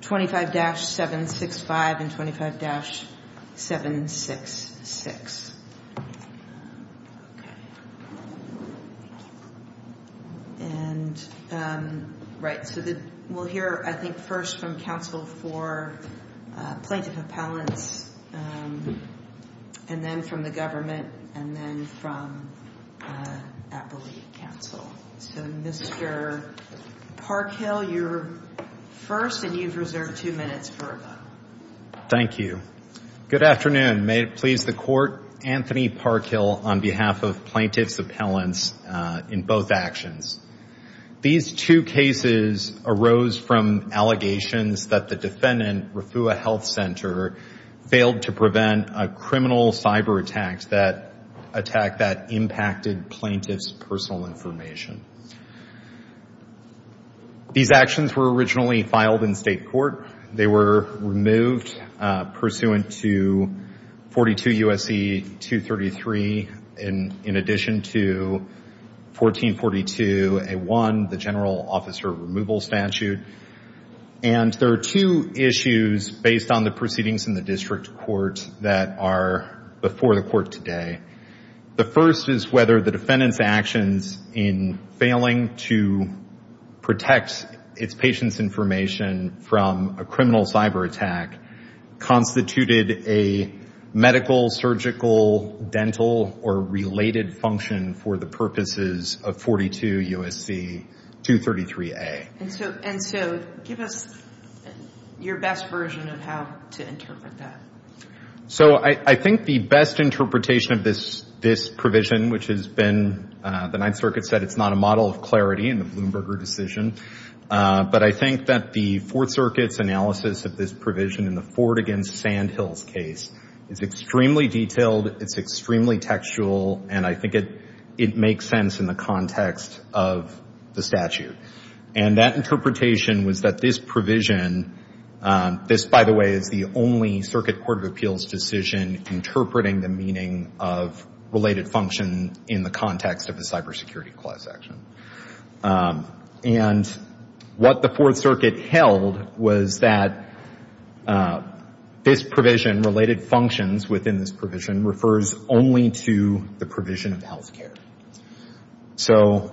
25-765 and 25-766. We'll hear, I think, first from counsel for plaintiff appellants, and then from the government, and then from appellate counsel. So, Mr. Parkhill, you're first, and you've reserved two minutes for them. Thank you. Good afternoon. May it please the Court, Anthony Parkhill on behalf of plaintiff's appellants in both actions. These two cases arose from allegations that the defendant, Refuah Health Center, failed to prevent a criminal cyber attack that impacted plaintiff's personal information. These actions were originally filed in state court. They were removed pursuant to 42 U.S.C. 233, in addition to 1442A1, the general officer removal statute. And there are two issues based on the proceedings in the district court that are before the court today. The first is whether the defendant's actions in failing to protect its patient's information from a criminal cyber attack constituted a medical, surgical, dental, or related function for the purposes of 42 U.S.C. 233A. And so give us your best version of how to interpret that. So I think the best interpretation of this provision, which has been the Ninth Circuit said it's not a model of clarity in the Bloomberger decision, but I think that the Fourth Circuit's analysis of this provision in the Ford v. Sandhills case is extremely detailed, it's extremely textual, and I think it makes sense in the context of the statute. And that interpretation was that this provision, this, by the way, is the only Circuit Court of Appeals decision interpreting the meaning of related function in the context of a cybersecurity clause action. And what the Fourth Circuit held was that this provision, related functions within this provision, refers only to the provision of health care. So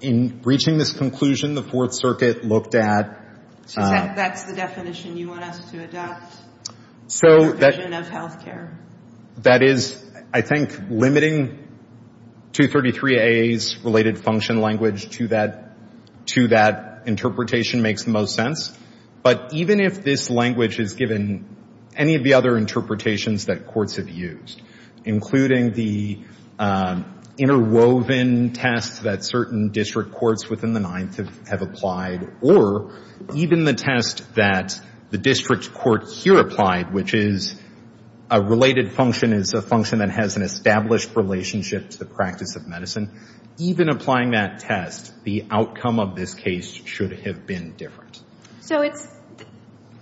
in reaching this conclusion, the Fourth Circuit looked at- So that's the definition you want us to adopt? So that- The provision of health care. That is, I think, limiting 233A's related function language to that interpretation makes the most sense. But even if this language is given any of the other interpretations that courts have used, including the interwoven tests that certain district courts within the Ninth have applied, or even the test that the district court here applied, which is a related function is a function that has an established relationship to the practice of medicine, even applying that test, the outcome of this case should have been different. So it's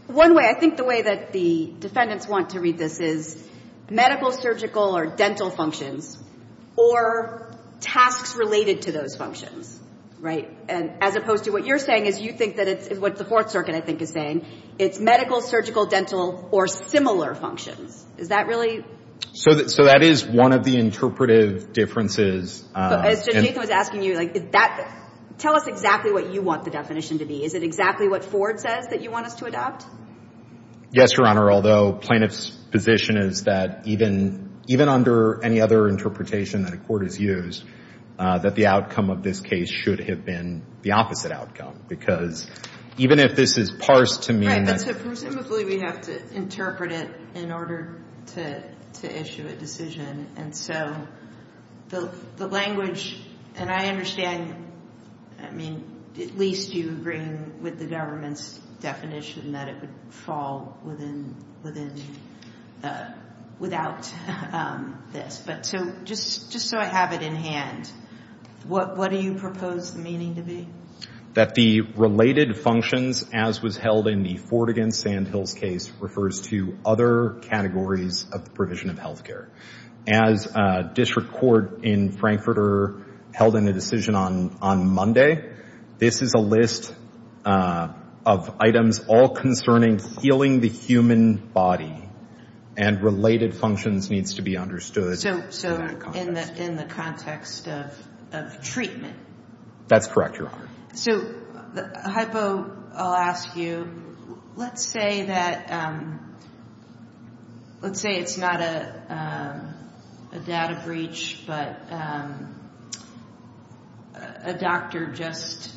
one way. I think the way that the defendants want to read this is medical, surgical, or dental functions, or tasks related to those functions, right? And as opposed to what you're saying is you think that it's what the Fourth Circuit, I think, is saying. It's medical, surgical, dental, or similar functions. Is that really- So that is one of the interpretive differences. As Judge Nathan was asking you, tell us exactly what you want the definition to be. Is it exactly what Ford says that you want us to adopt? Yes, Your Honor, although plaintiff's position is that even under any other interpretation that a court has used, that the outcome of this case should have been the opposite outcome. Because even if this is parsed to mean- So presumably we have to interpret it in order to issue a decision. And so the language, and I understand, I mean, at least you agree with the government's definition that it would fall within-without this. But so just so I have it in hand, what do you propose the meaning to be? That the related functions, as was held in the Ford v. Sandhills case, refers to other categories of the provision of health care. As a district court in Frankfurter held in a decision on Monday, this is a list of items all concerning healing the human body, and related functions needs to be understood- So in the context of treatment. That's correct, Your Honor. So hypo, I'll ask you, let's say that-let's say it's not a data breach, but a doctor just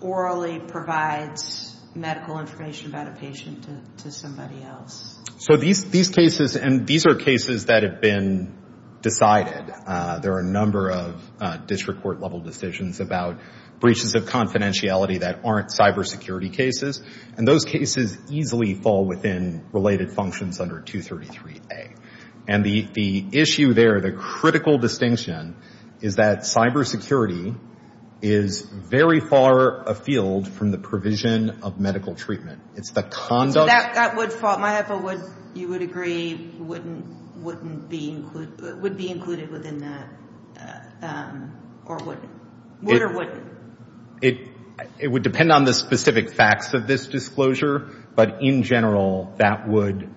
orally provides medical information about a patient to somebody else. So these cases, and these are cases that have been decided. There are a number of district court-level decisions about breaches of confidentiality that aren't cybersecurity cases, and those cases easily fall within related functions under 233A. And the issue there, the critical distinction, is that cybersecurity is very far afield from the provision of medical treatment. It's the conduct- It would depend on the specific facts of this disclosure, but in general that would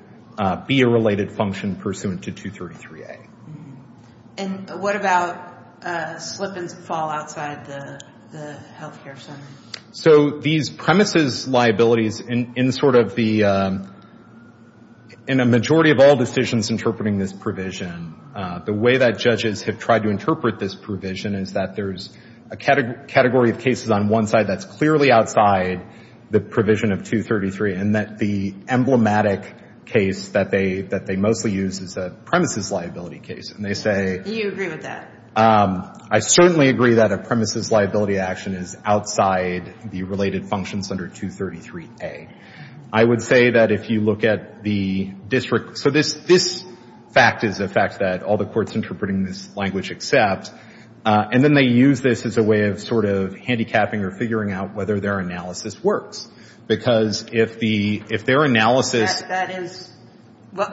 be a related function pursuant to 233A. And what about slip and fall outside the health care center? So these premises liabilities in sort of the-in a majority of all decisions interpreting this provision, the way that judges have tried to interpret this provision is that there's a category of cases on one side that's clearly outside the provision of 233, and that the emblematic case that they mostly use is a premises liability case. And they say- Do you agree with that? I certainly agree that a premises liability action is outside the related functions under 233A. I would say that if you look at the district- So this fact is a fact that all the courts interpreting this language accept, and then they use this as a way of sort of handicapping or figuring out whether their analysis works. Because if their analysis- That is-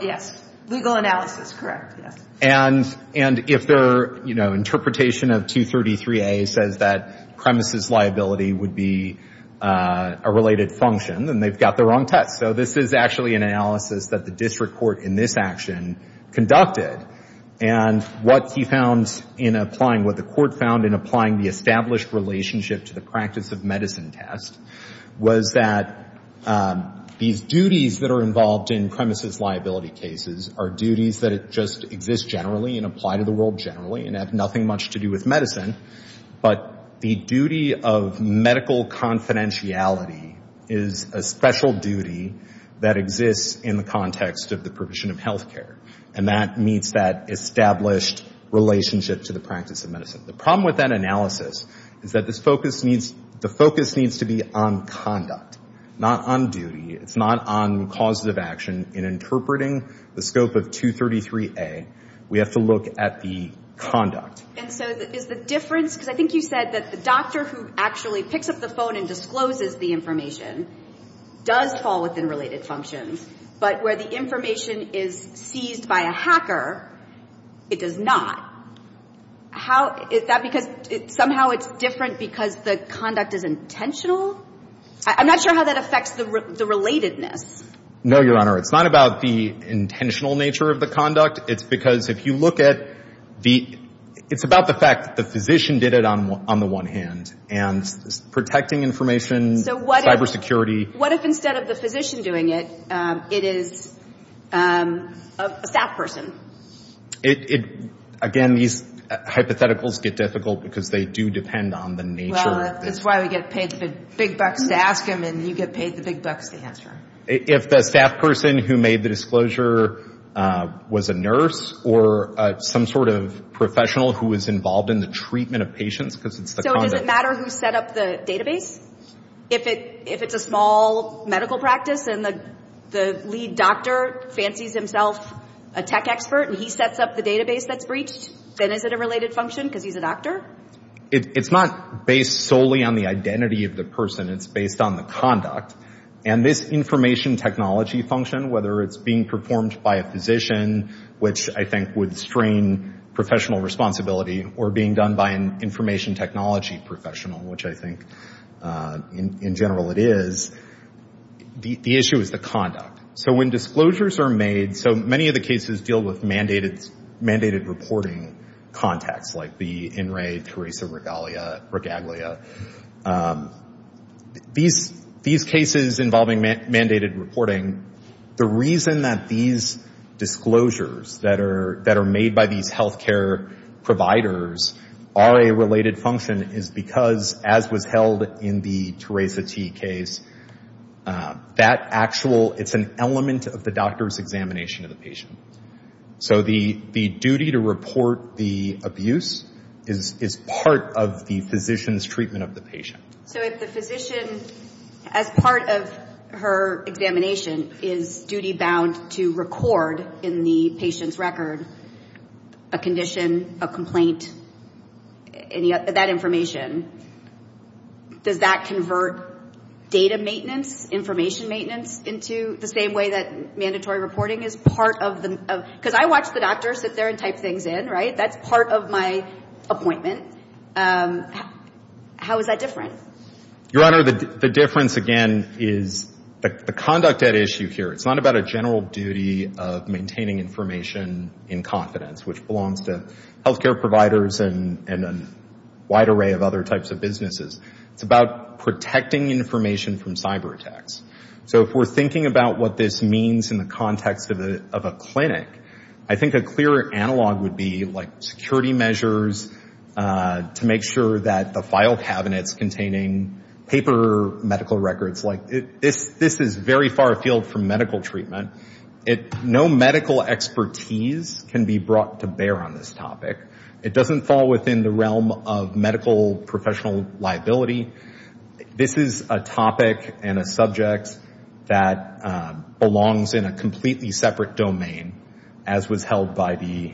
Yes. Legal analysis. Yes. And if their interpretation of 233A says that premises liability would be a related function, then they've got the wrong test. So this is actually an analysis that the district court in this action conducted. And what he found in applying- what the court found in applying the established relationship to the practice of medicine test was that these duties that are involved in premises liability cases are duties that just exist generally and apply to the world generally and have nothing much to do with medicine. But the duty of medical confidentiality is a special duty that exists in the context of the provision of health care. And that meets that established relationship to the practice of medicine. The problem with that analysis is that the focus needs to be on conduct, not on duty. It's not on causative action. In interpreting the scope of 233A, we have to look at the conduct. And so is the difference- because I think you said that the doctor who actually picks up the phone and discloses the information does fall within related functions. But where the information is seized by a hacker, it does not. How- is that because somehow it's different because the conduct is intentional? I'm not sure how that affects the relatedness. No, Your Honor. It's not about the intentional nature of the conduct. It's because if you look at the- it's about the fact that the physician did it on the one hand. And protecting information, cybersecurity- So what if instead of the physician doing it, it is a staff person? Again, these hypotheticals get difficult because they do depend on the nature- Well, that's why we get paid the big bucks to ask them and you get paid the big bucks to answer. If the staff person who made the disclosure was a nurse or some sort of professional who was involved in the treatment of patients because it's the conduct- So does it matter who set up the database? If it's a small medical practice and the lead doctor fancies himself a tech expert and he sets up the database that's breached, then is it a related function because he's a doctor? It's not based solely on the identity of the person. It's based on the conduct. And this information technology function, whether it's being performed by a physician, which I think would strain professional responsibility, or being done by an information technology professional, which I think in general it is, the issue is the conduct. So when disclosures are made- So many of the cases deal with mandated reporting contacts like the INRAE, CARISA, Regalia. These cases involving mandated reporting, the reason that these disclosures that are made by these health care providers are a related function is because, as was held in the Teresa T. case, it's an element of the doctor's examination of the patient. So the duty to report the abuse is part of the physician's treatment of the patient. So if the physician, as part of her examination, is duty-bound to record in the patient's record a condition, a complaint, that information, does that convert data maintenance, information maintenance, into the same way that mandatory reporting is part of the- Because I watch the doctor sit there and type things in, right? That's part of my appointment. How is that different? Your Honor, the difference, again, is the conduct at issue here. It's not about a general duty of maintaining information in confidence, which belongs to health care providers and a wide array of other types of businesses. It's about protecting information from cyberattacks. So if we're thinking about what this means in the context of a clinic, I think a clear analog would be, like, security measures to make sure that the file cabinets containing paper medical records, like, this is very far afield from medical treatment. No medical expertise can be brought to bear on this topic. It doesn't fall within the realm of medical professional liability. This is a topic and a subject that belongs in a completely separate domain, as was held by the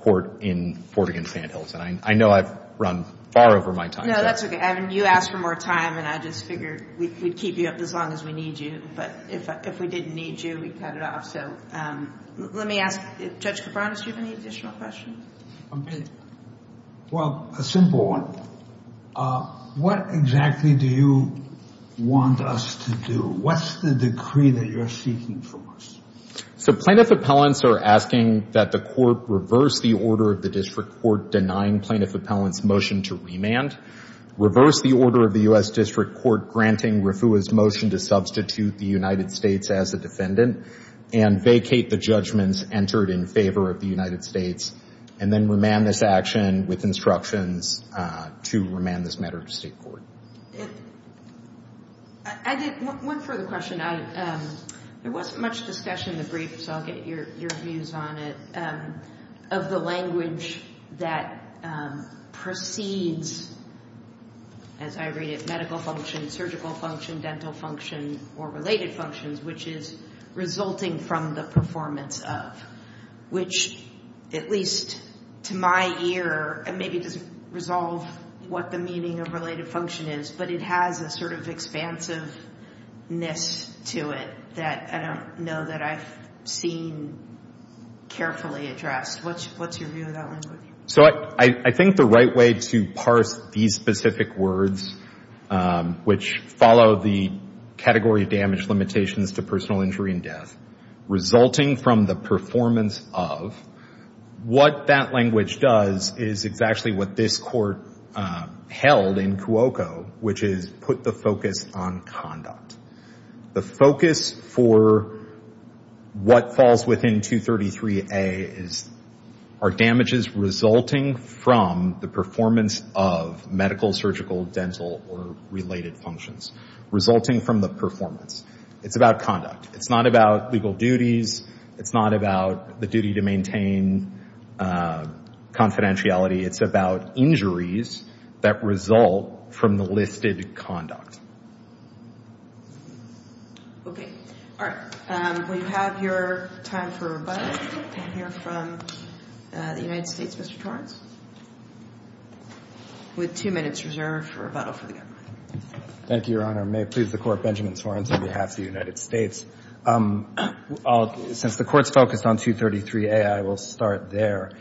court in Fort Higgins-Van Hilton. I know I've run far over my time. No, that's okay. You asked for more time, and I just figured we'd keep you up as long as we need you. But if we didn't need you, we'd cut it off. So let me ask Judge Cabran, do you have any additional questions? Well, a simple one. What exactly do you want us to do? What's the decree that you're seeking from us? So plaintiff appellants are asking that the court reverse the order of the district court denying plaintiff appellant's motion to remand, reverse the order of the U.S. District Court granting Refua's motion to substitute the United States as a defendant, and vacate the judgments entered in favor of the United States, and then remand this action with instructions to remand this matter to state court. One further question. There wasn't much discussion in the brief, so I'll get your views on it. Of the language that precedes, as I read it, medical function, surgical function, dental function, or related functions, which is resulting from the performance of, which at least to my ear maybe doesn't resolve what the meaning of related function is, but it has a sort of expansiveness to it that I don't know that I've seen carefully addressed. What's your view of that language? So I think the right way to parse these specific words, which follow the category of damage limitations to personal injury and death, resulting from the performance of, what that language does is exactly what this court held in Cuoco, which is put the focus on conduct. The focus for what falls within 233A is, are damages resulting from the performance of medical, surgical, dental, or related functions, resulting from the performance. It's about conduct. It's not about legal duties. It's not about the duty to maintain confidentiality. It's about injuries that result from the listed conduct. Okay. All right. We have your time for rebuttal. We can hear from the United States, Mr. Torrence, with two minutes reserved for rebuttal from the government. Thank you, Your Honor. May it please the Court, Benjamin Torrence on behalf of the United States. Since the Court's focused on 233A, I will start there.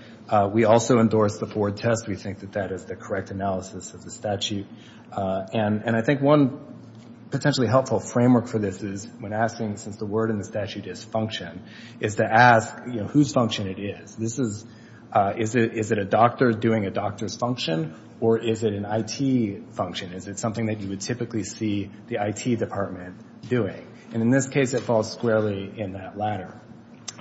We also endorse the Ford test. We think that that is the correct analysis of the statute. And I think one potentially helpful framework for this is, when asking, since the word in the statute is function, is to ask whose function it is. Is it a doctor doing a doctor's function, or is it an IT function? Is it something that you would typically see the IT department doing? And in this case, it falls squarely in that latter.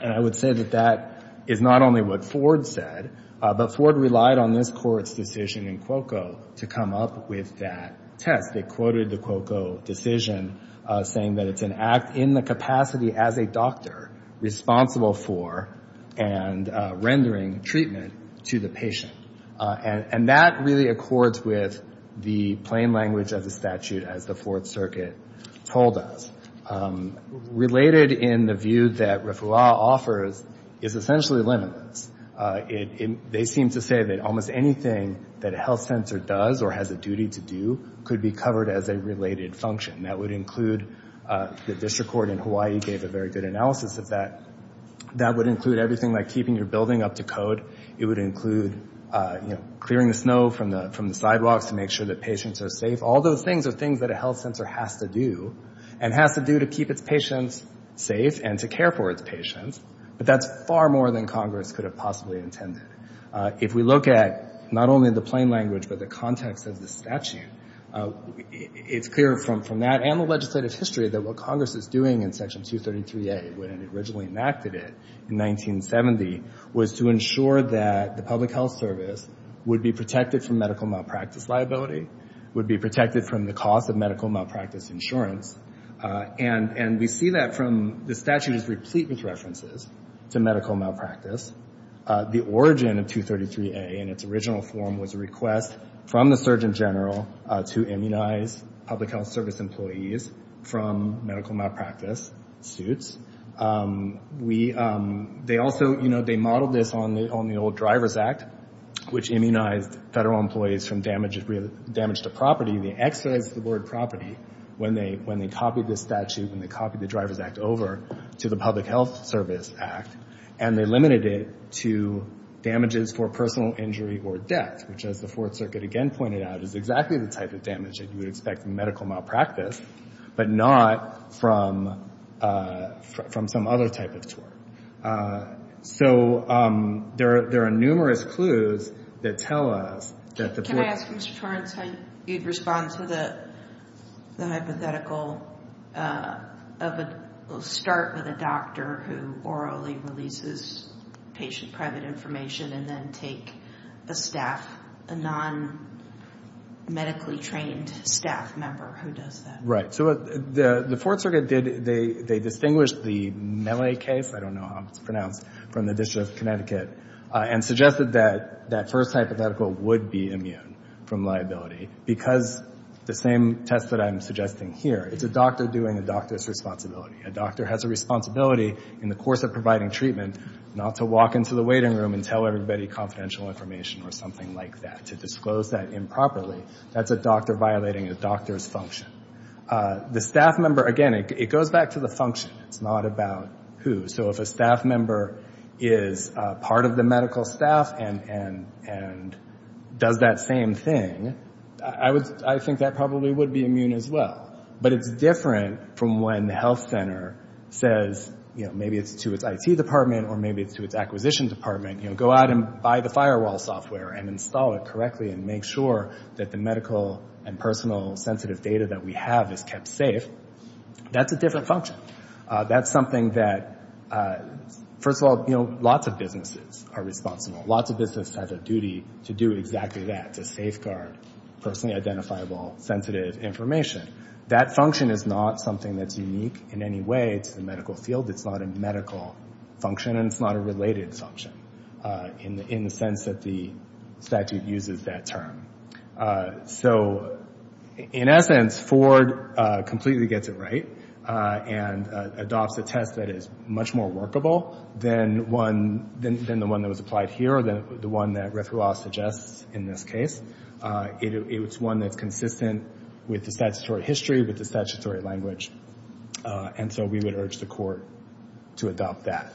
And I would say that that is not only what Ford said, but Ford relied on this Court's decision in Cuoco to come up with that test. They quoted the Cuoco decision, saying that it's an act in the capacity as a doctor, responsible for and rendering treatment to the patient. And that really accords with the plain language of the statute, as the Fourth Circuit told us. Related in the view that RFRA offers is essentially limitless. They seem to say that almost anything that a health sensor does or has a duty to do could be covered as a related function. That would include the district court in Hawaii gave a very good analysis of that. That would include everything like keeping your building up to code. It would include clearing the snow from the sidewalks to make sure that patients are safe. All those things are things that a health sensor has to do, and has to do to keep its patients safe and to care for its patients. But that's far more than Congress could have possibly intended. If we look at not only the plain language, but the context of the statute, it's clear from that and the legislative history that what Congress is doing in Section 233A, when it originally enacted it in 1970, was to ensure that the public health service would be protected from medical malpractice liability, would be protected from the cost of medical malpractice insurance. And we see that from the statute is replete with references to medical malpractice. The origin of 233A in its original form was a request from the Surgeon General to immunize public health service employees from medical malpractice suits. They also, you know, they modeled this on the old Drivers Act, which immunized federal employees from damage to property. The X says the word property when they copied the statute, when they copied the Drivers Act over to the Public Health Service Act. And they limited it to damages for personal injury or death, which as the Fourth Circuit again pointed out is exactly the type of damage that you would expect from medical malpractice, but not from some other type of tort. So there are numerous clues that tell us that the board— Can I ask, Mr. Torrence, how you'd respond to the hypothetical of a— we'll start with a doctor who orally releases patient private information and then take a staff, a non-medically trained staff member who does that. Right. So the Fourth Circuit did—they distinguished the Mele case, I don't know how it's pronounced, from the District of Connecticut, and suggested that that first hypothetical would be immune from liability because the same test that I'm suggesting here, it's a doctor doing a doctor's responsibility. A doctor has a responsibility in the course of providing treatment not to walk into the waiting room and tell everybody confidential information or something like that. To disclose that improperly, that's a doctor violating a doctor's function. The staff member, again, it goes back to the function. It's not about who. So if a staff member is part of the medical staff and does that same thing, I think that probably would be immune as well. But it's different from when the health center says, maybe it's to its IT department or maybe it's to its acquisition department, go out and buy the firewall software and install it correctly and make sure that the medical and personal sensitive data that we have is kept safe. That's a different function. That's something that, first of all, lots of businesses are responsible. Lots of businesses have a duty to do exactly that, to safeguard personally identifiable sensitive information. That function is not something that's unique in any way to the medical field. It's not a medical function and it's not a related function in the sense that the statute uses that term. So in essence, Ford completely gets it right and adopts a test that is much more workable than the one that was applied here or the one that Rethuah suggests in this case. It's one that's consistent with the statutory history, with the statutory language. And so we would urge the court to adopt that.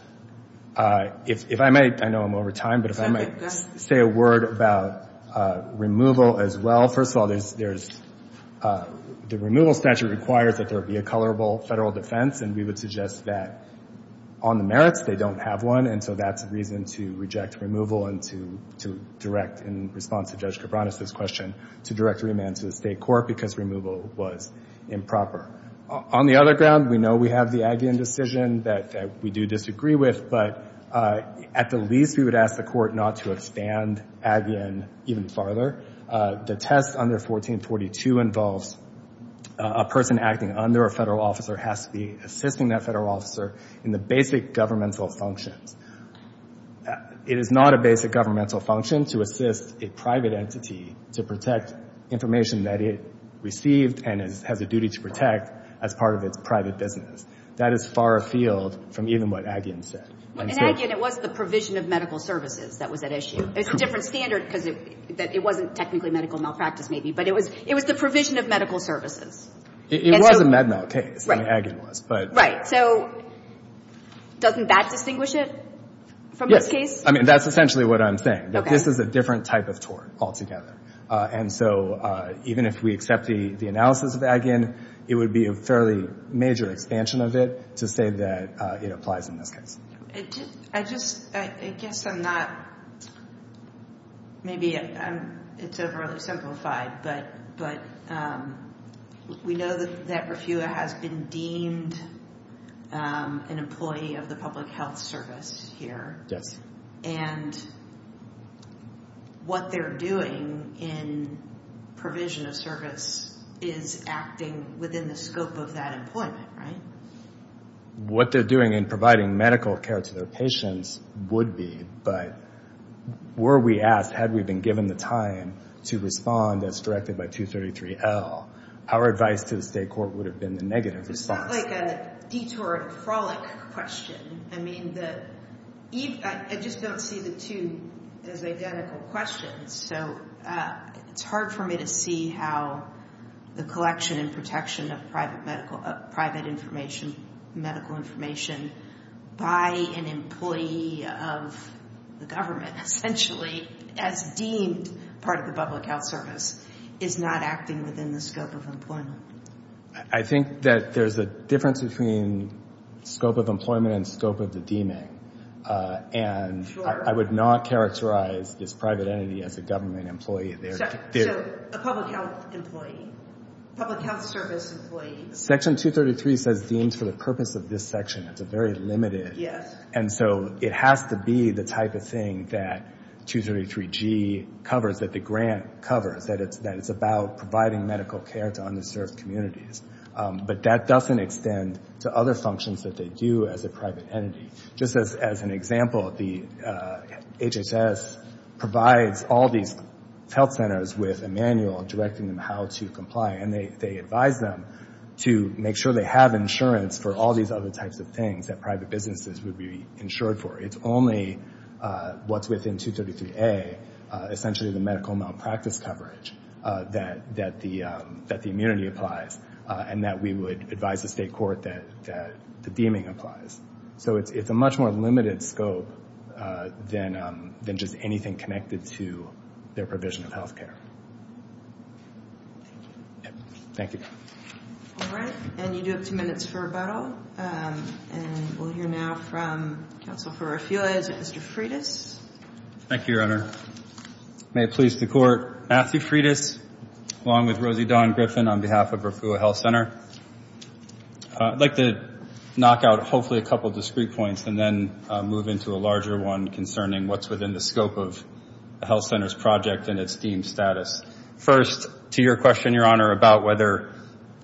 If I might, I know I'm over time, but if I might say a word about removal as well. First of all, the removal statute requires that there be a colorable federal defense and we would suggest that on the merits they don't have one and so that's a reason to reject removal and to direct, in response to Judge Cabranes' question, to direct remand to the state court because removal was improper. On the other ground, we know we have the Agian decision that we do disagree with, but at the least we would ask the court not to expand Agian even farther. The test under 1442 involves a person acting under a federal officer who has to be assisting that federal officer in the basic governmental functions. It is not a basic governmental function to assist a private entity to protect information that it received and has a duty to protect as part of its private business. That is far afield from even what Agian said. In Agian, it was the provision of medical services that was at issue. It's a different standard because it wasn't technically medical malpractice maybe, but it was the provision of medical services. It was a Med-Mal case. Agian was. Right. So doesn't that distinguish it from this case? Yes. I mean, that's essentially what I'm saying. Okay. This is a different type of tort altogether. And so even if we accept the analysis of Agian, it would be a fairly major expansion of it to say that it applies in this case. I just, I guess I'm not, maybe it's overly simplified, but we know that Refua has been deemed an employee of the public health service here. Yes. And what they're doing in provision of service is acting within the scope of that employment, right? What they're doing in providing medical care to their patients would be, but were we asked, had we been given the time to respond as directed by 233L, our advice to the state court would have been the negative response. It's not like a detour or a frolic question. I mean, I just don't see the two as identical questions. So it's hard for me to see how the collection and protection of private medical, private information, medical information by an employee of the government, essentially as deemed part of the public health service, is not acting within the scope of employment. I think that there's a difference between scope of employment and scope of the deeming. And I would not characterize this private entity as a government employee. So a public health employee, public health service employee. Section 233 says deemed for the purpose of this section. It's very limited. Yes. And so it has to be the type of thing that 233G covers, that the grant covers, that it's about providing medical care to underserved communities. But that doesn't extend to other functions that they do as a private entity. Just as an example, the HHS provides all these health centers with a manual directing them how to comply, and they advise them to make sure they have insurance for all these other types of things that private businesses would be insured for. It's only what's within 233A, essentially the medical malpractice coverage, that the immunity applies, and that we would advise the state court that the deeming applies. So it's a much more limited scope than just anything connected to their provision of health care. Thank you. Thank you. All right. And you do have two minutes for rebuttal. And we'll hear now from counsel for RFUA, Mr. Freitas. Thank you, Your Honor. May it please the Court, Matthew Freitas along with Rosie Dawn Griffin on behalf of RFUA Health Center. I'd like to knock out hopefully a couple of discrete points and then move into a larger one concerning what's within the scope of a health center's project and its deemed status. First, to your question, Your Honor, about whether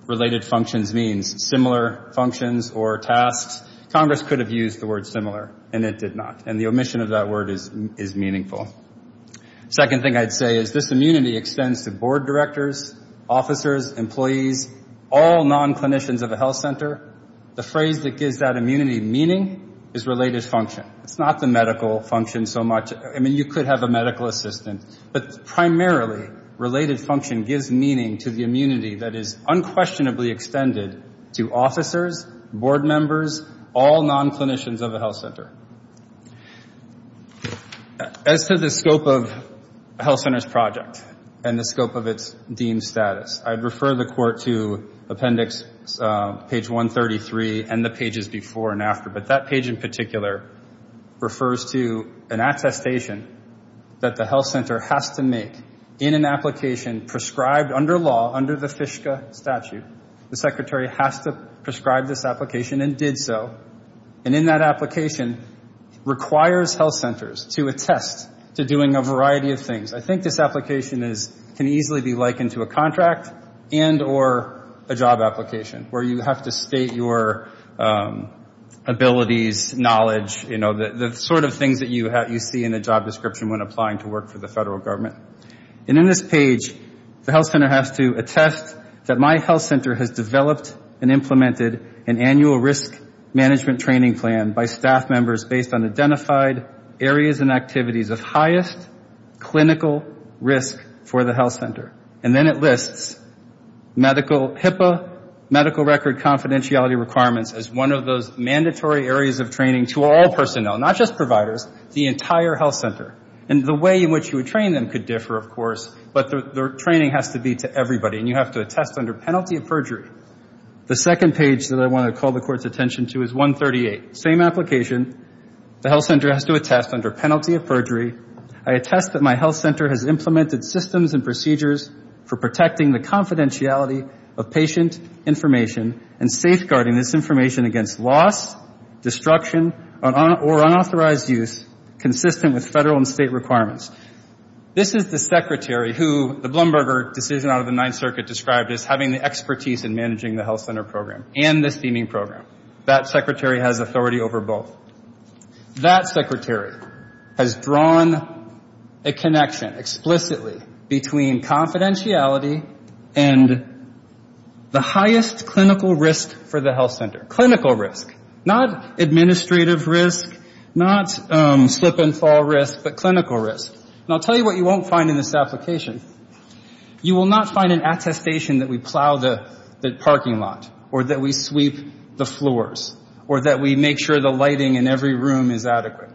related functions means similar functions or tasks, Congress could have used the word similar, and it did not. And the omission of that word is meaningful. Second thing I'd say is this immunity extends to board directors, officers, employees, all non-clinicians of a health center. The phrase that gives that immunity meaning is related function. It's not the medical function so much. I mean, you could have a medical assistant. But primarily, related function gives meaning to the immunity that is unquestionably extended to officers, board members, all non-clinicians of a health center. As to the scope of a health center's project and the scope of its deemed status, I'd refer the Court to appendix page 133 and the pages before and after. But that page in particular refers to an attestation that the health center has to make in an application prescribed under law, under the FISCA statute, the secretary has to prescribe this application and did so. And in that application, requires health centers to attest to doing a variety of things. I think this application can easily be likened to a contract and or a job application, where you have to state your abilities, knowledge, you know, the sort of things that you see in a job description when applying to work for the federal government. And in this page, the health center has to attest that my health center has developed and implemented an annual risk management training plan by staff members based on identified areas and activities of highest clinical risk for the health center. And then it lists medical HIPAA, medical record confidentiality requirements, as one of those mandatory areas of training to all personnel, not just providers, the entire health center. And the way in which you would train them could differ, of course, but the training has to be to everybody. And you have to attest under penalty of perjury. The second page that I want to call the court's attention to is 138. Same application. The health center has to attest under penalty of perjury. I attest that my health center has implemented systems and procedures for protecting the confidentiality of patient information and safeguarding this information against loss, destruction, or unauthorized use consistent with federal and state requirements. This is the secretary who the Blumberger decision out of the Ninth Circuit described as having the expertise in managing the health center program and the steaming program. That secretary has authority over both. That secretary has drawn a connection explicitly between confidentiality and the highest clinical risk for the health center. Clinical risk, not administrative risk, not slip and fall risk, but clinical risk. And I'll tell you what you won't find in this application. You will not find an attestation that we plow the parking lot or that we sweep the floors or that we make sure the lighting in every room is adequate.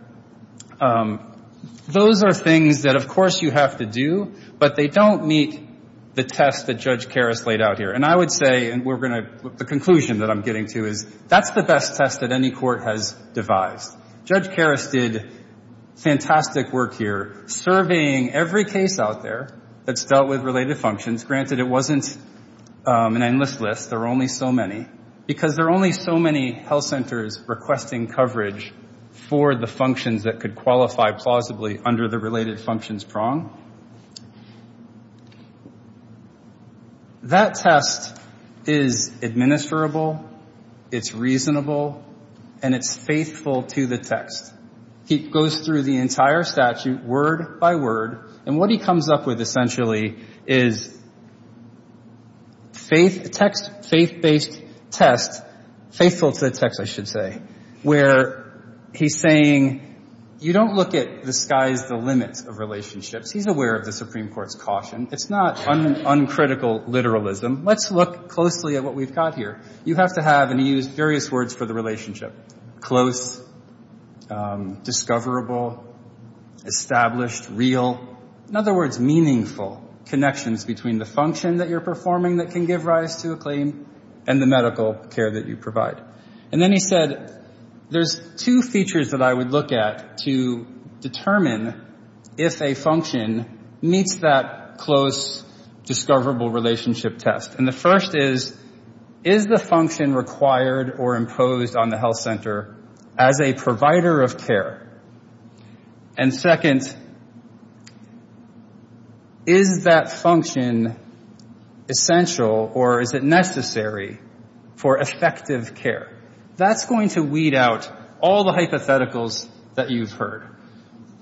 Those are things that, of course, you have to do, but they don't meet the test that Judge Karras laid out here. And I would say, and we're going to, the conclusion that I'm getting to is that's the best test that any court has devised. Judge Karras did fantastic work here surveying every case out there that's dealt with related functions. Granted, it wasn't an endless list. There were only so many because there are only so many health centers requesting coverage for the functions that could qualify plausibly under the related functions prong. That test is administrable, it's reasonable, and it's faithful to the text. He goes through the entire statute word by word, and what he comes up with essentially is faith-based test, faithful to the text, I should say, where he's saying, you don't look at the skies, the limits of relationships. He's aware of the Supreme Court's caution. It's not uncritical literalism. Let's look closely at what we've got here. You have to have, and he used various words for the relationship, close, discoverable, established, real. In other words, meaningful connections between the function that you're performing that can give rise to a claim and the medical care that you provide. And then he said, there's two features that I would look at to determine if a function meets that close, discoverable relationship test. And the first is, is the function required or imposed on the health center as a provider of care? And second, is that function essential or is it necessary for effective care? That's going to weed out all the hypotheticals that you've heard,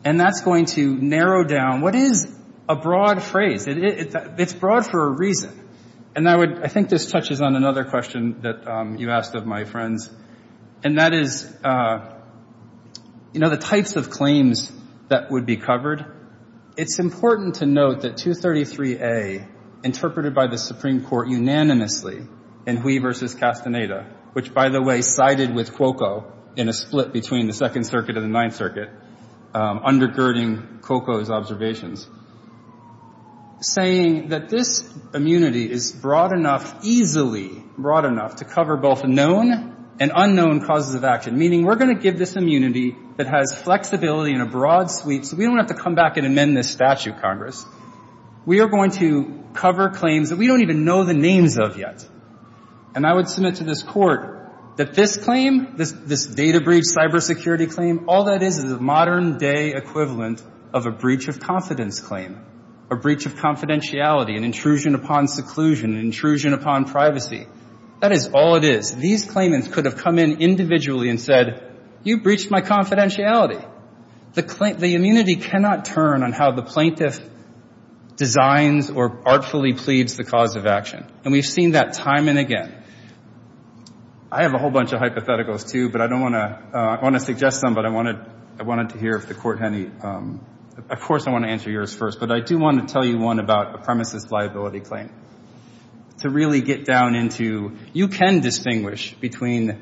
and that's going to narrow down, what is a broad phrase? It's broad for a reason, and I think this touches on another question that you asked of my friends, and that is, you know, the types of claims that would be covered. It's important to note that 233A, interpreted by the Supreme Court unanimously in Hui v. Castaneda, which, by the way, sided with Cuoco in a split between the Second Circuit and the Ninth Circuit, undergirding Cuoco's observations, saying that this immunity is broad enough, easily broad enough, to cover both known and unknown causes of action, meaning we're going to give this immunity that has flexibility in a broad suite so we don't have to come back and amend this statute, Congress. We are going to cover claims that we don't even know the names of yet. And I would submit to this Court that this claim, this data breach cybersecurity claim, all that is is a modern-day equivalent of a breach of confidence claim, a breach of confidentiality, an intrusion upon seclusion, an intrusion upon privacy. That is all it is. These claimants could have come in individually and said, you breached my confidentiality. The immunity cannot turn on how the plaintiff designs or artfully pleads the cause of action, and we've seen that time and again. I have a whole bunch of hypotheticals, too, but I don't want to suggest them, but I wanted to hear if the Court had any. Of course I want to answer yours first, but I do want to tell you one about a premises liability claim. To really get down into, you can distinguish between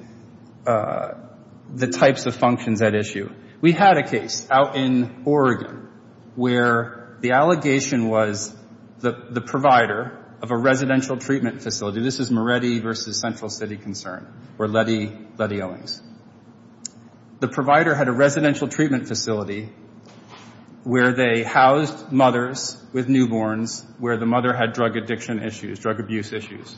the types of functions at issue. We had a case out in Oregon where the allegation was the provider of a residential treatment facility. This is Moretti v. Central City Concern, or Letty Owings. The provider had a residential treatment facility where they housed mothers with newborns where the mother had drug addiction issues, drug abuse issues.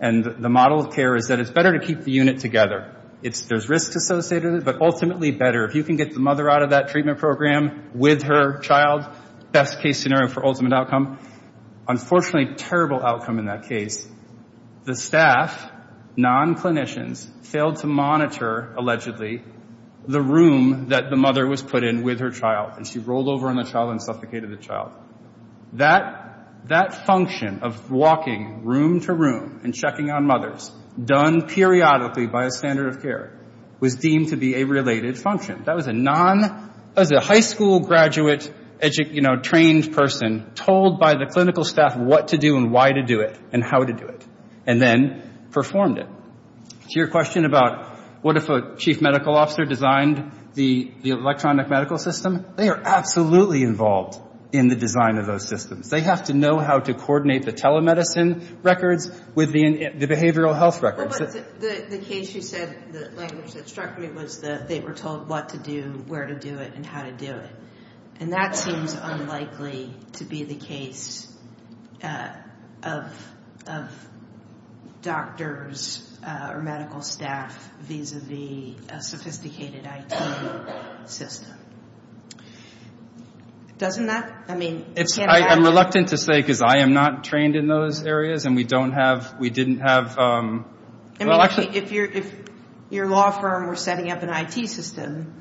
And the model of care is that it's better to keep the unit together. There's risks associated with it, but ultimately better. If you can get the mother out of that treatment program with her child, best-case scenario for ultimate outcome. Unfortunately, terrible outcome in that case. The staff, non-clinicians, failed to monitor, allegedly, the room that the mother was put in with her child. And she rolled over on the child and suffocated the child. That function of walking room to room and checking on mothers, done periodically by a standard of care, was deemed to be a related function. That was a high school graduate trained person told by the clinical staff what to do and why to do it and how to do it, and then performed it. To your question about what if a chief medical officer designed the electronic medical system, they are absolutely involved in the design of those systems. They have to know how to coordinate the telemedicine records with the behavioral health records. The case you said, the language that struck me was that they were told what to do, where to do it, and how to do it. And that seems unlikely to be the case of doctors or medical staff vis-à-vis a sophisticated IT system. Doesn't that? I'm reluctant to say because I am not trained in those areas and we don't have, we didn't have. I mean, if your law firm were setting up an IT system,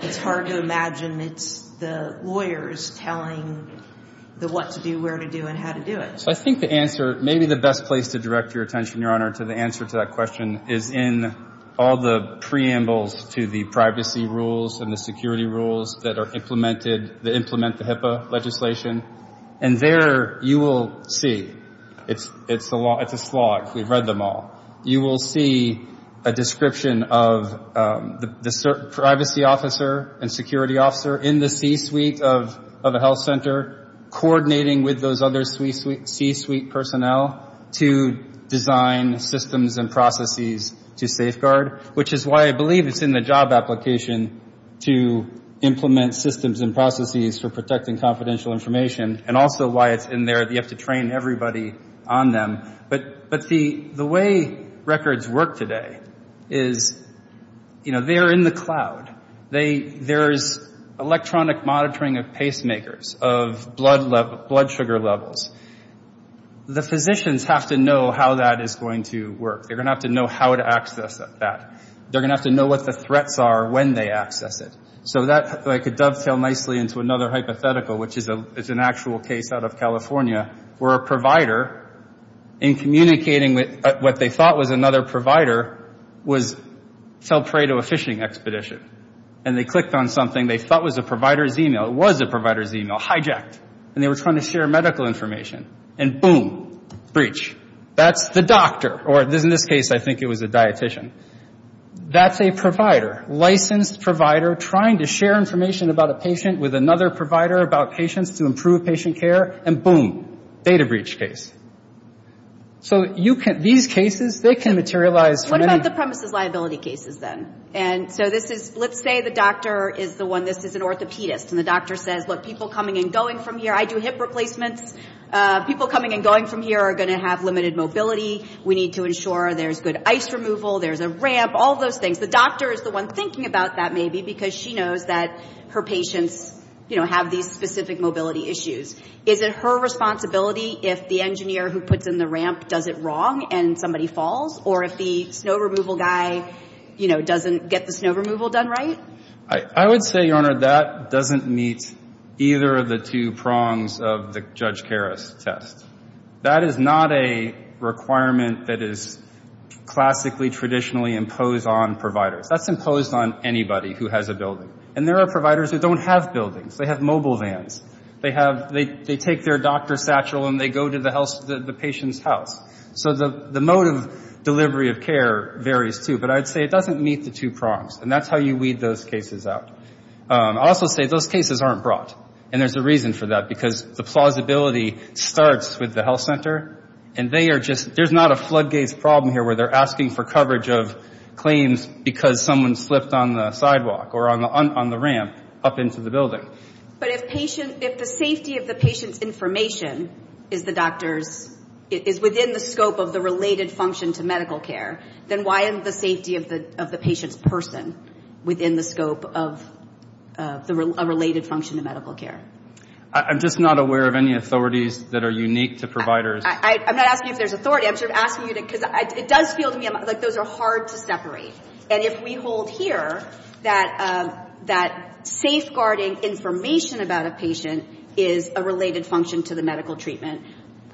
it's hard to imagine it's the lawyers telling the what to do, where to do, and how to do it. I think the answer, maybe the best place to direct your attention, Your Honor, to the answer to that question is in all the preambles to the privacy rules and the security rules that are implemented, that implement the HIPAA legislation. And there you will see, it's a slog, we've read them all, you will see a description of the privacy officer and security officer in the C-suite of a health center coordinating with those other C-suite personnel to design systems and processes to safeguard, which is why I believe it's in the job application to implement systems and processes for protecting confidential information and also why it's in there that you have to train everybody on them. But the way records work today is, you know, they're in the cloud. There's electronic monitoring of pacemakers, of blood sugar levels. The physicians have to know how that is going to work. They're going to have to know how to access that. They're going to have to know what the threats are when they access it. So that, if I could dovetail nicely into another hypothetical, which is an actual case out of California, where a provider, in communicating with what they thought was another provider, was tell prey to a fishing expedition. And they clicked on something they thought was a provider's email. It was a provider's email, hijacked. And they were trying to share medical information. And boom, breach. That's the doctor, or in this case, I think it was a dietician. That's a provider, licensed provider, trying to share information about a patient with another provider about patients to improve patient care. And boom, data breach case. So these cases, they can materialize. What about the premises liability cases then? And so this is, let's say the doctor is the one, this is an orthopedist. And the doctor says, look, people coming and going from here. I do hip replacements. People coming and going from here are going to have limited mobility. We need to ensure there's good ice removal. There's a ramp. All those things. The doctor is the one thinking about that maybe, because she knows that her patients have these specific mobility issues. Is it her responsibility if the engineer who puts in the ramp does it wrong and somebody falls? Or if the snow removal guy doesn't get the snow removal done right? I would say, Your Honor, that doesn't meet either of the two prongs of the Judge Karas test. That is not a requirement that is classically, traditionally imposed on providers. That's imposed on anybody who has a building. And there are providers who don't have buildings. They have mobile vans. They take their doctor's satchel and they go to the patient's house. So the mode of delivery of care varies too. But I'd say it doesn't meet the two prongs. And that's how you weed those cases out. I'll also say those cases aren't brought. And there's a reason for that, because the plausibility starts with the health center. And they are just, there's not a floodgates problem here where they're asking for coverage of claims because someone slipped on the sidewalk or on the ramp up into the building. But if the safety of the patient's information is the doctor's, is within the scope of the related function to medical care, then why isn't the safety of the patient's person within the scope of a related function to medical care? I'm just not aware of any authorities that are unique to providers. I'm not asking if there's authority. I'm sort of asking you to, because it does feel to me like those are hard to separate. And if we hold here that safeguarding information about a patient is a related function to the medical treatment,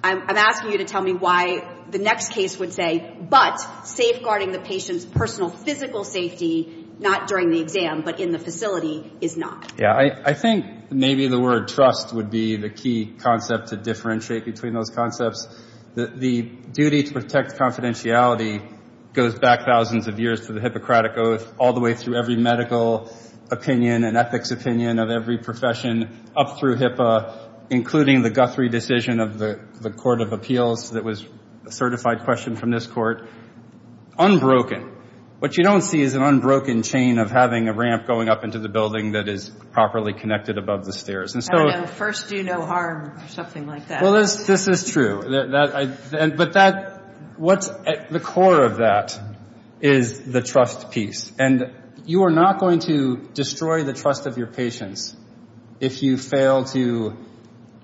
I'm asking you to tell me why the next case would say, but safeguarding the patient's personal physical safety, not during the exam, but in the facility, is not. Yeah, I think maybe the word trust would be the key concept to differentiate between those concepts. The duty to protect confidentiality goes back thousands of years to the Hippocratic Oath, all the way through every medical opinion and ethics opinion of every profession up through HIPAA, including the Guthrie decision of the Court of Appeals that was a certified question from this court. Unbroken. What you don't see is an unbroken chain of having a ramp going up into the building that is properly connected above the stairs. I don't know, first do no harm or something like that. Well, this is true. But that, what's at the core of that is the trust piece. And you are not going to destroy the trust of your patients if you fail to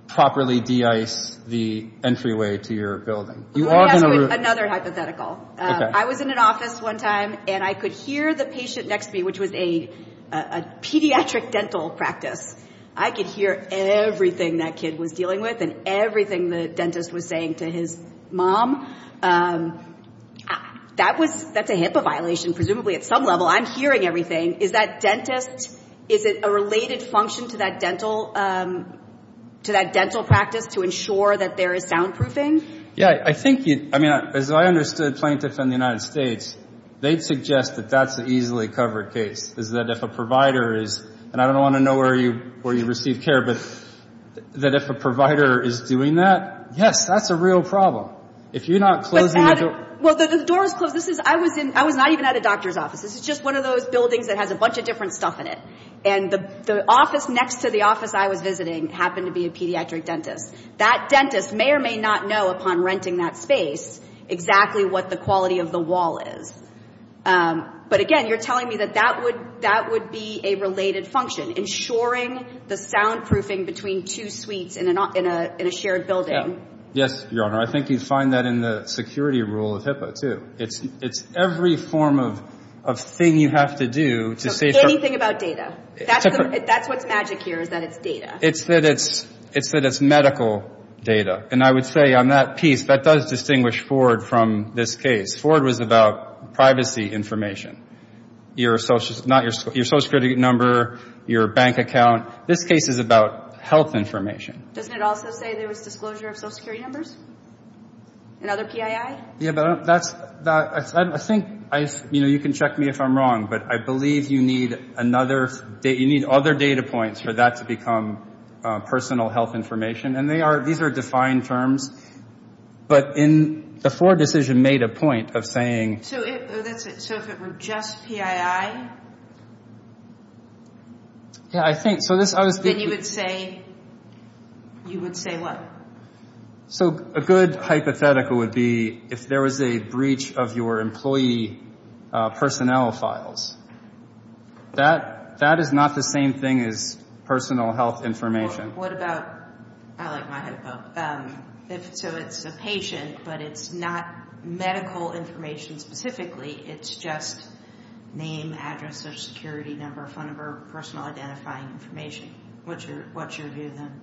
properly de-ice the entryway to your building. Let me ask you another hypothetical. I was in an office one time, and I could hear the patient next to me, which was a pediatric dental practice. I could hear everything that kid was dealing with and everything the dentist was saying to his mom. That's a HIPAA violation presumably at some level. I'm hearing everything. Is that dentist, is it a related function to that dental practice to ensure that there is soundproofing? Yeah, I think, as I understood plaintiffs in the United States, they'd suggest that that's an easily covered case, is that if a provider is, and I don't want to know where you receive care, but that if a provider is doing that, yes, that's a real problem. If you're not closing the door. Well, the door is closed. I was not even at a doctor's office. This is just one of those buildings that has a bunch of different stuff in it. And the office next to the office I was visiting happened to be a pediatric dentist. That dentist may or may not know upon renting that space exactly what the quality of the wall is. But, again, you're telling me that that would be a related function, ensuring the soundproofing between two suites in a shared building. Yes, Your Honor. I think you'd find that in the security rule of HIPAA, too. It's every form of thing you have to do to say. Anything about data. That's what's magic here is that it's data. It's that it's medical data. And I would say on that piece, that does distinguish Ford from this case. Ford was about privacy information, your social security number, your bank account. This case is about health information. Doesn't it also say there was disclosure of social security numbers? Another PII? Yeah, but I think you can check me if I'm wrong. But I believe you need other data points for that to become personal health information. And these are defined terms. But the Ford decision made a point of saying. So if it were just PII? Yeah, I think. Then you would say what? So a good hypothetical would be if there was a breach of your employee personnel files. That is not the same thing as personal health information. What about, I like my HIPAA. So it's a patient, but it's not medical information specifically. It's just name, address, social security number, phone number, personal identifying information. What's your view then?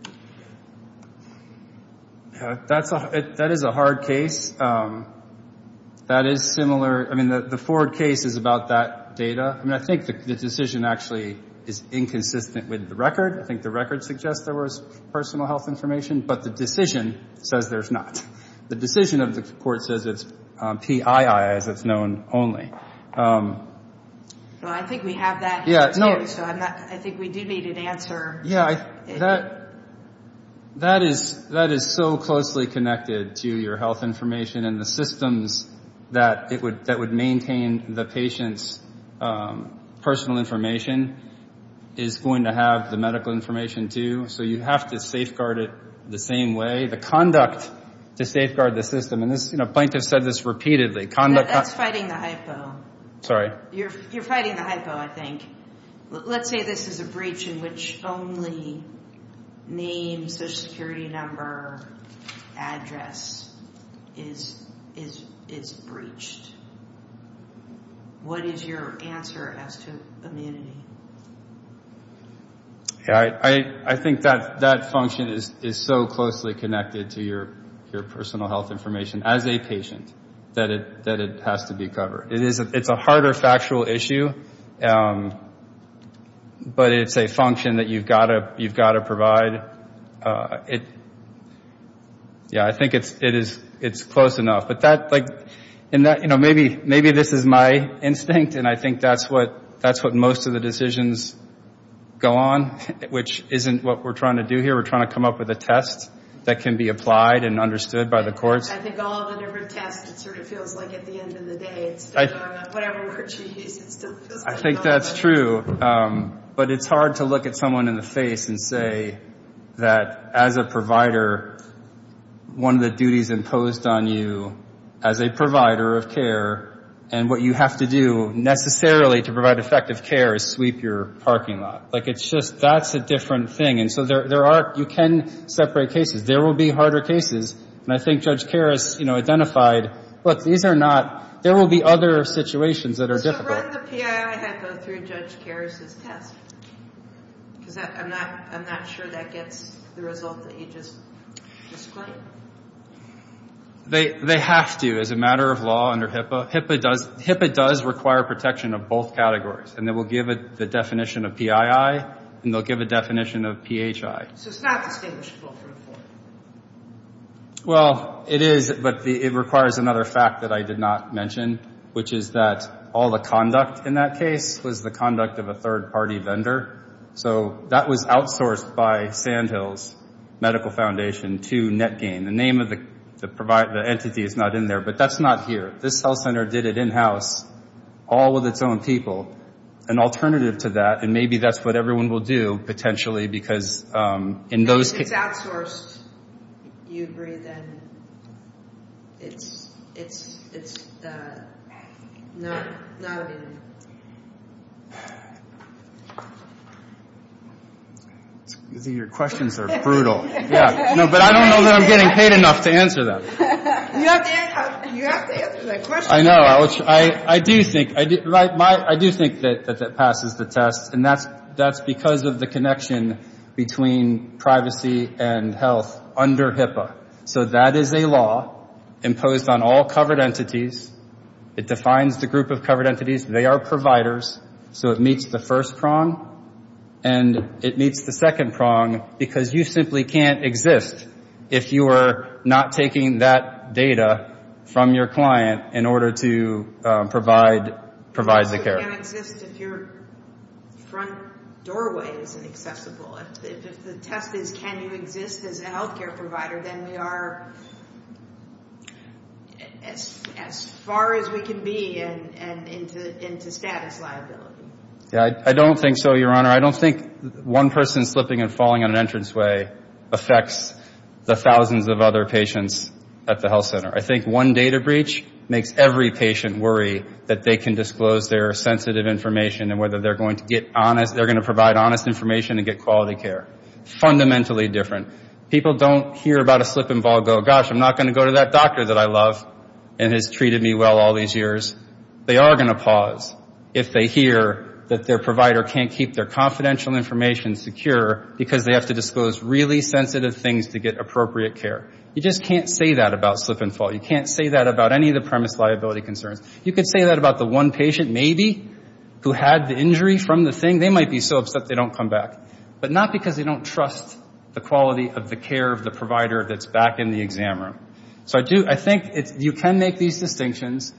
That is a hard case. That is similar. I mean, the Ford case is about that data. I mean, I think the decision actually is inconsistent with the record. I think the record suggests there was personal health information. But the decision says there's not. The decision of the court says it's PII as it's known only. I think we have that here too. So I think we do need an answer. That is so closely connected to your health information and the systems that would maintain the patient's personal information is going to have the medical information too. So you have to safeguard it the same way. It's actually the conduct to safeguard the system. Plaintiffs said this repeatedly. That's fighting the hypo. Sorry. You're fighting the hypo, I think. Let's say this is a breach in which only name, social security number, address is breached. What is your answer as to immunity? I think that function is so closely connected to your personal health information as a patient that it has to be covered. It's a harder factual issue, but it's a function that you've got to provide. Yeah, I think it's close enough. Maybe this is my instinct, and I think that's what most of the decisions go on, which isn't what we're trying to do here. We're trying to come up with a test that can be applied and understood by the courts. I think all the different tests, it sort of feels like at the end of the day it's still going on. Whatever we're choosing, it still feels like it's going on. I think that's true. But it's hard to look at someone in the face and say that as a provider, one of the duties imposed on you as a provider of care, and what you have to do necessarily to provide effective care is sweep your parking lot. Like it's just, that's a different thing. And so there are, you can separate cases. There will be harder cases, and I think Judge Karras identified, look, these are not, there will be other situations that are difficult. So run the PII that go through Judge Karras' test, because I'm not sure that gets the result that you just disclaimed. They have to as a matter of law under HIPAA. HIPAA does require protection of both categories, and they will give it the definition of PII, and they'll give a definition of PHI. So it's not distinguishable from the court. Well, it is, but it requires another fact that I did not mention, which is that all the conduct in that case was the conduct of a third-party vendor. So that was outsourced by Sandhills Medical Foundation to NetGain. The name of the entity is not in there, but that's not here. This health center did it in-house, all with its own people. An alternative to that, and maybe that's what everyone will do, potentially, because in those cases. If it's outsourced, you agree, then it's not in there. Your questions are brutal. But I don't know that I'm getting paid enough to answer them. You have to answer the questions. I know. I do think that that passes the test, and that's because of the connection between privacy and health under HIPAA. So that is a law imposed on all covered entities. It defines the group of covered entities. They are providers, so it meets the first prong, and it meets the second prong because you simply can't exist if you are not taking that data from your client in order to provide the care. You can't exist if your front doorway isn't accessible. If the test is can you exist as a health care provider, then we are as far as we can be into status liability. I don't think so, Your Honor. I don't think one person slipping and falling on an entranceway affects the thousands of other patients at the health center. I think one data breach makes every patient worry that they can disclose their sensitive information and whether they're going to provide honest information and get quality care. Fundamentally different. People don't hear about a slip and ball and go, gosh, I'm not going to go to that doctor that I love and has treated me well all these years. They are going to pause if they hear that their provider can't keep their confidential information secure because they have to disclose really sensitive things to get appropriate care. You just can't say that about slip and fall. You can't say that about any of the premise liability concerns. You could say that about the one patient, maybe, who had the injury from the thing. They might be so upset they don't come back, but not because they don't trust the quality of the care of the provider that's back in the exam room. So I think you can make these distinctions.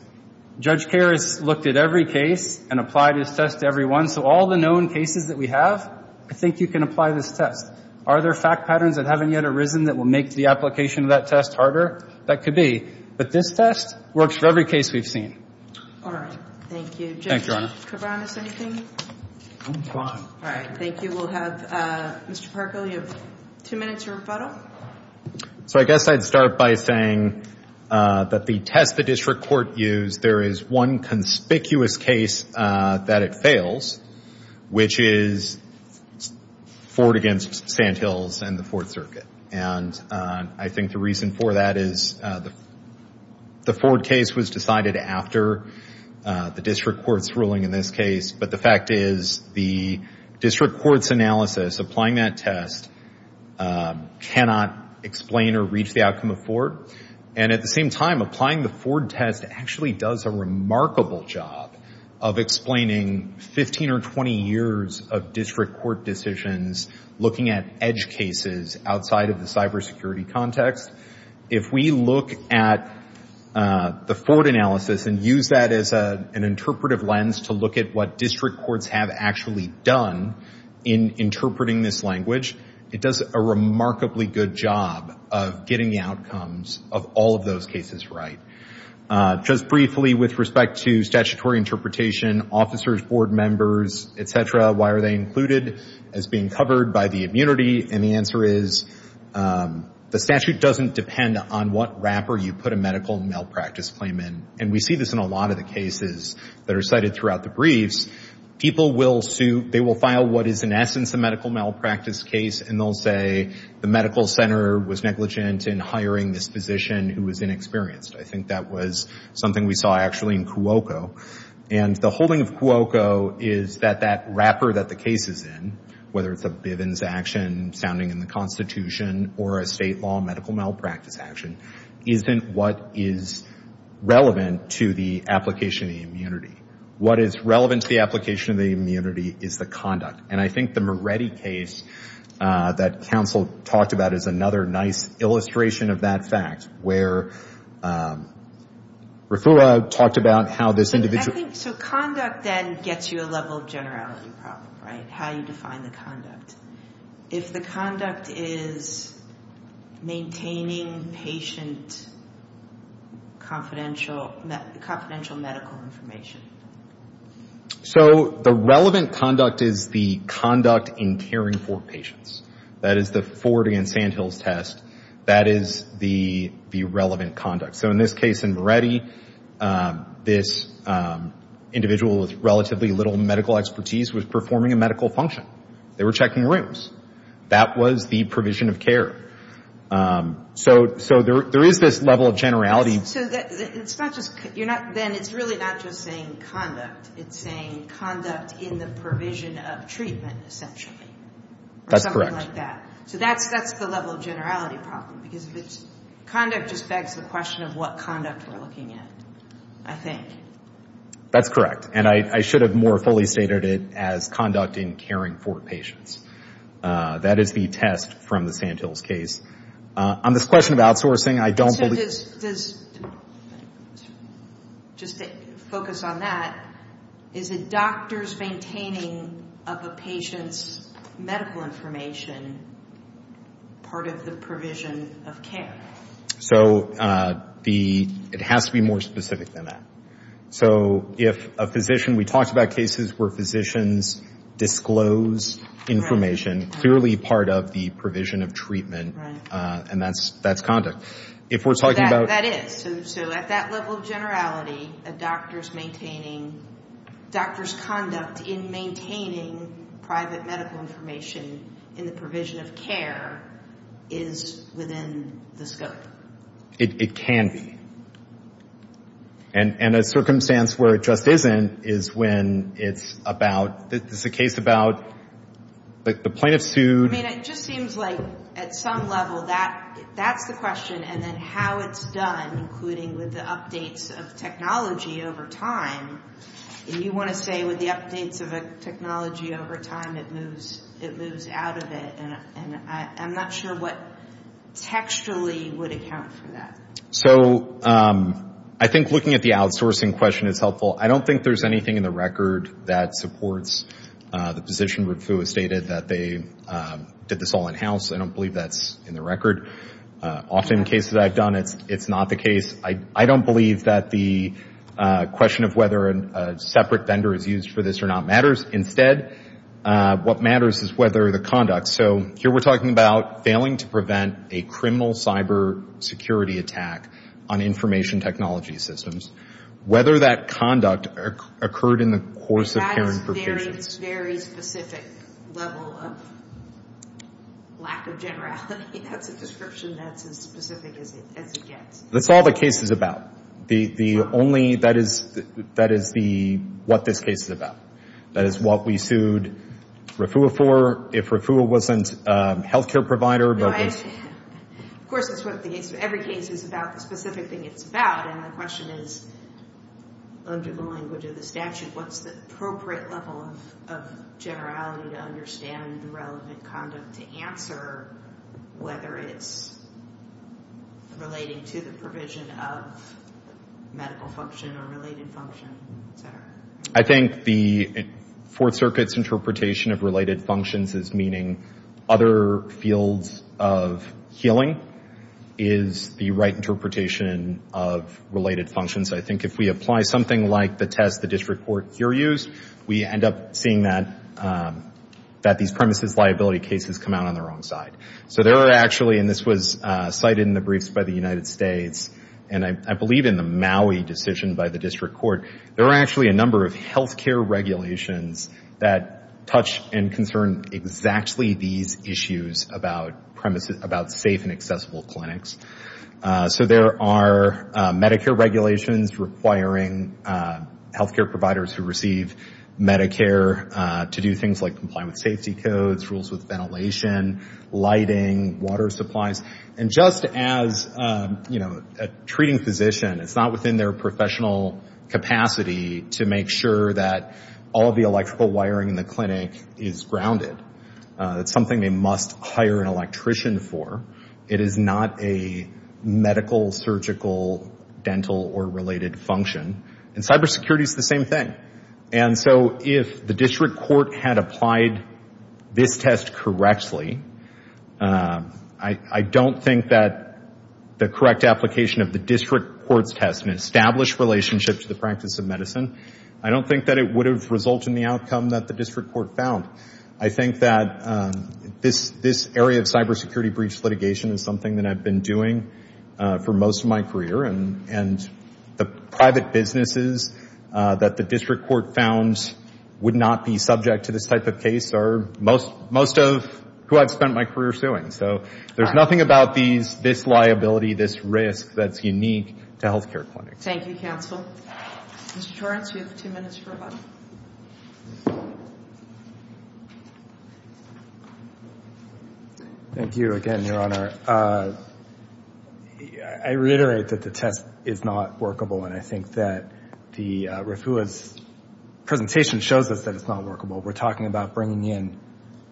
Judge Kerr has looked at every case and applied his test to every one, so all the known cases that we have, I think you can apply this test. Are there fact patterns that haven't yet arisen that will make the application of that test harder? That could be. But this test works for every case we've seen. All right. Thank you. Thank you, Your Honor. Judge Kibanis, anything? I'm fine. All right. Thank you. We'll have Mr. Parco. You have two minutes to rebuttal. So I guess I'd start by saying that the test the district court used, there is one conspicuous case that it fails, which is Ford against Sandhills and the Fourth Circuit. And I think the reason for that is the Ford case was decided after the district court's ruling in this case, but the fact is the district court's analysis applying that test cannot explain or reach the outcome of Ford. And at the same time, applying the Ford test actually does a remarkable job of explaining 15 or 20 years of district court decisions looking at edge cases outside of the cybersecurity context. If we look at the Ford analysis and use that as an interpretive lens to look at what district courts have actually done in interpreting this language, it does a remarkably good job of getting the outcomes of all of those cases right. Just briefly, with respect to statutory interpretation, officers, board members, et cetera, why are they included as being covered by the immunity? And the answer is the statute doesn't depend on what wrapper you put a medical malpractice claim in. And we see this in a lot of the cases that are cited throughout the briefs. People will sue. They will file what is in essence a medical malpractice case, and they'll say the medical center was negligent in hiring this physician who was inexperienced. I think that was something we saw actually in Cuoco. And the holding of Cuoco is that that wrapper that the case is in, whether it's a Bivens action sounding in the Constitution or a state law medical malpractice action, isn't what is relevant to the application of the immunity. What is relevant to the application of the immunity is the conduct. And I think the Moretti case that counsel talked about is another nice illustration of that fact, where Refua talked about how this individual. So conduct then gets you a level of generality problem, right, how you define the conduct. If the conduct is maintaining patient confidential medical information. So the relevant conduct is the conduct in caring for patients. That is the Ford v. Sandhills test. That is the relevant conduct. So in this case in Moretti, this individual with relatively little medical expertise was performing a medical function. They were checking rooms. That was the provision of care. So there is this level of generality. So it's not just you're not then it's really not just saying conduct. It's saying conduct in the provision of treatment essentially. That's correct. Or something like that. So that's the level of generality problem. Because conduct just begs the question of what conduct we're looking at, I think. That's correct. And I should have more fully stated it as conduct in caring for patients. That is the test from the Sandhills case. On this question of outsourcing, I don't believe. Just to focus on that, is a doctor's maintaining of a patient's medical information part of the provision of care? So it has to be more specific than that. So if a physician, we talked about cases where physicians disclose information, clearly part of the provision of treatment. And that's conduct. That is. So at that level of generality, a doctor's maintaining, doctor's conduct in maintaining private medical information in the provision of care is within the scope. It can be. And a circumstance where it just isn't is when it's about, it's a case about the plaintiff sued. I mean, it just seems like at some level that's the question. And then how it's done, including with the updates of technology over time. And you want to say with the updates of technology over time, it moves out of it. And I'm not sure what textually would account for that. So I think looking at the outsourcing question is helpful. I don't think there's anything in the record that supports the position with who has stated that they did this all in-house. I don't believe that's in the record. Often in cases I've done, it's not the case. I don't believe that the question of whether a separate vendor is used for this or not matters. Instead, what matters is whether the conduct. So here we're talking about failing to prevent a criminal cyber security attack on information technology systems. Whether that conduct occurred in the course of hearing provisions. That's a very specific level of lack of generality. That's a description that's as specific as it gets. That's all the case is about. The only, that is what this case is about. That is what we sued RFUA for. If RFUA wasn't a health care provider, but was. Of course, that's what every case is about, the specific thing it's about. And the question is, under the language of the statute, what's the appropriate level of generality to understand the relevant conduct to answer, whether it's relating to the provision of medical function or related function, et cetera? I think the Fourth Circuit's interpretation of related functions as meaning other fields of healing is the right interpretation of related functions. I think if we apply something like the test the district court here used, we end up seeing that these premises liability cases come out on the wrong side. So there are actually, and this was cited in the briefs by the United States, and I believe in the Maui decision by the district court, there are actually a number of health care regulations that touch and concern exactly these issues about safe and accessible clinics. So there are Medicare regulations requiring health care providers who receive Medicare to do things like comply with safety codes, rules with ventilation, lighting, water supplies. And just as a treating physician, it's not within their professional capacity to make sure that all of the electrical wiring in the clinic is grounded. It's something they must hire an electrician for. It is not a medical, surgical, dental, or related function. And cybersecurity is the same thing. And so if the district court had applied this test correctly, I don't think that the correct application of the district court's test in an established relationship to the practice of medicine, I don't think that it would have resulted in the outcome that the district court found. I think that this area of cybersecurity breach litigation is something that I've been doing for most of my career, and the private businesses that the district court found would not be subject to this type of case are most of who I've spent my career suing. So there's nothing about this liability, this risk, that's unique to health care clinics. Thank you, counsel. Mr. Torrence, you have two minutes for a button. Thank you again, Your Honor. I reiterate that the test is not workable, and I think that Rufua's presentation shows us that it's not workable. We're talking about bringing in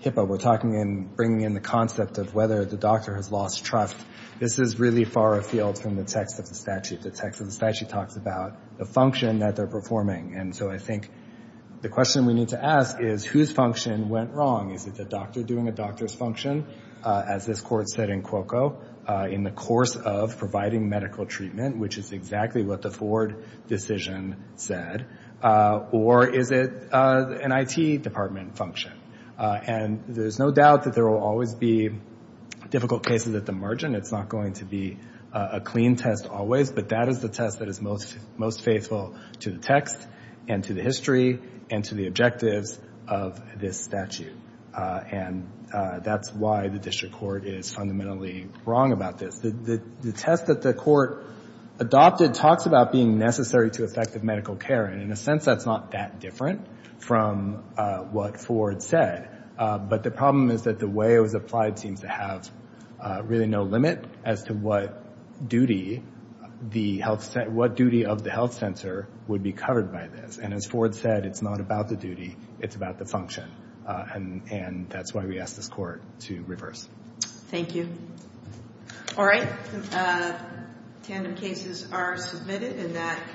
HIPAA. We're talking about bringing in the concept of whether the doctor has lost trust. This is really far afield from the text of the statute. The text of the statute talks about the function that they're performing. And so I think the question we need to ask is whose function went wrong? Is it the doctor doing a doctor's function? As this court said in Cuoco, in the course of providing medical treatment, which is exactly what the Ford decision said. Or is it an IT department function? And there's no doubt that there will always be difficult cases at the margin. It's not going to be a clean test always, but that is the test that is most faithful to the text and to the history and to the objectives of this statute. And that's why the district court is fundamentally wrong about this. The test that the court adopted talks about being necessary to effective medical care, and in a sense that's not that different from what Ford said. But the problem is that the way it was applied seems to have really no limit as to what duty of the health center would be covered by this. And as Ford said, it's not about the duty, it's about the function. And that's why we ask this court to reverse. Thank you. All right. Tandem cases are submitted, and that concludes the hearing.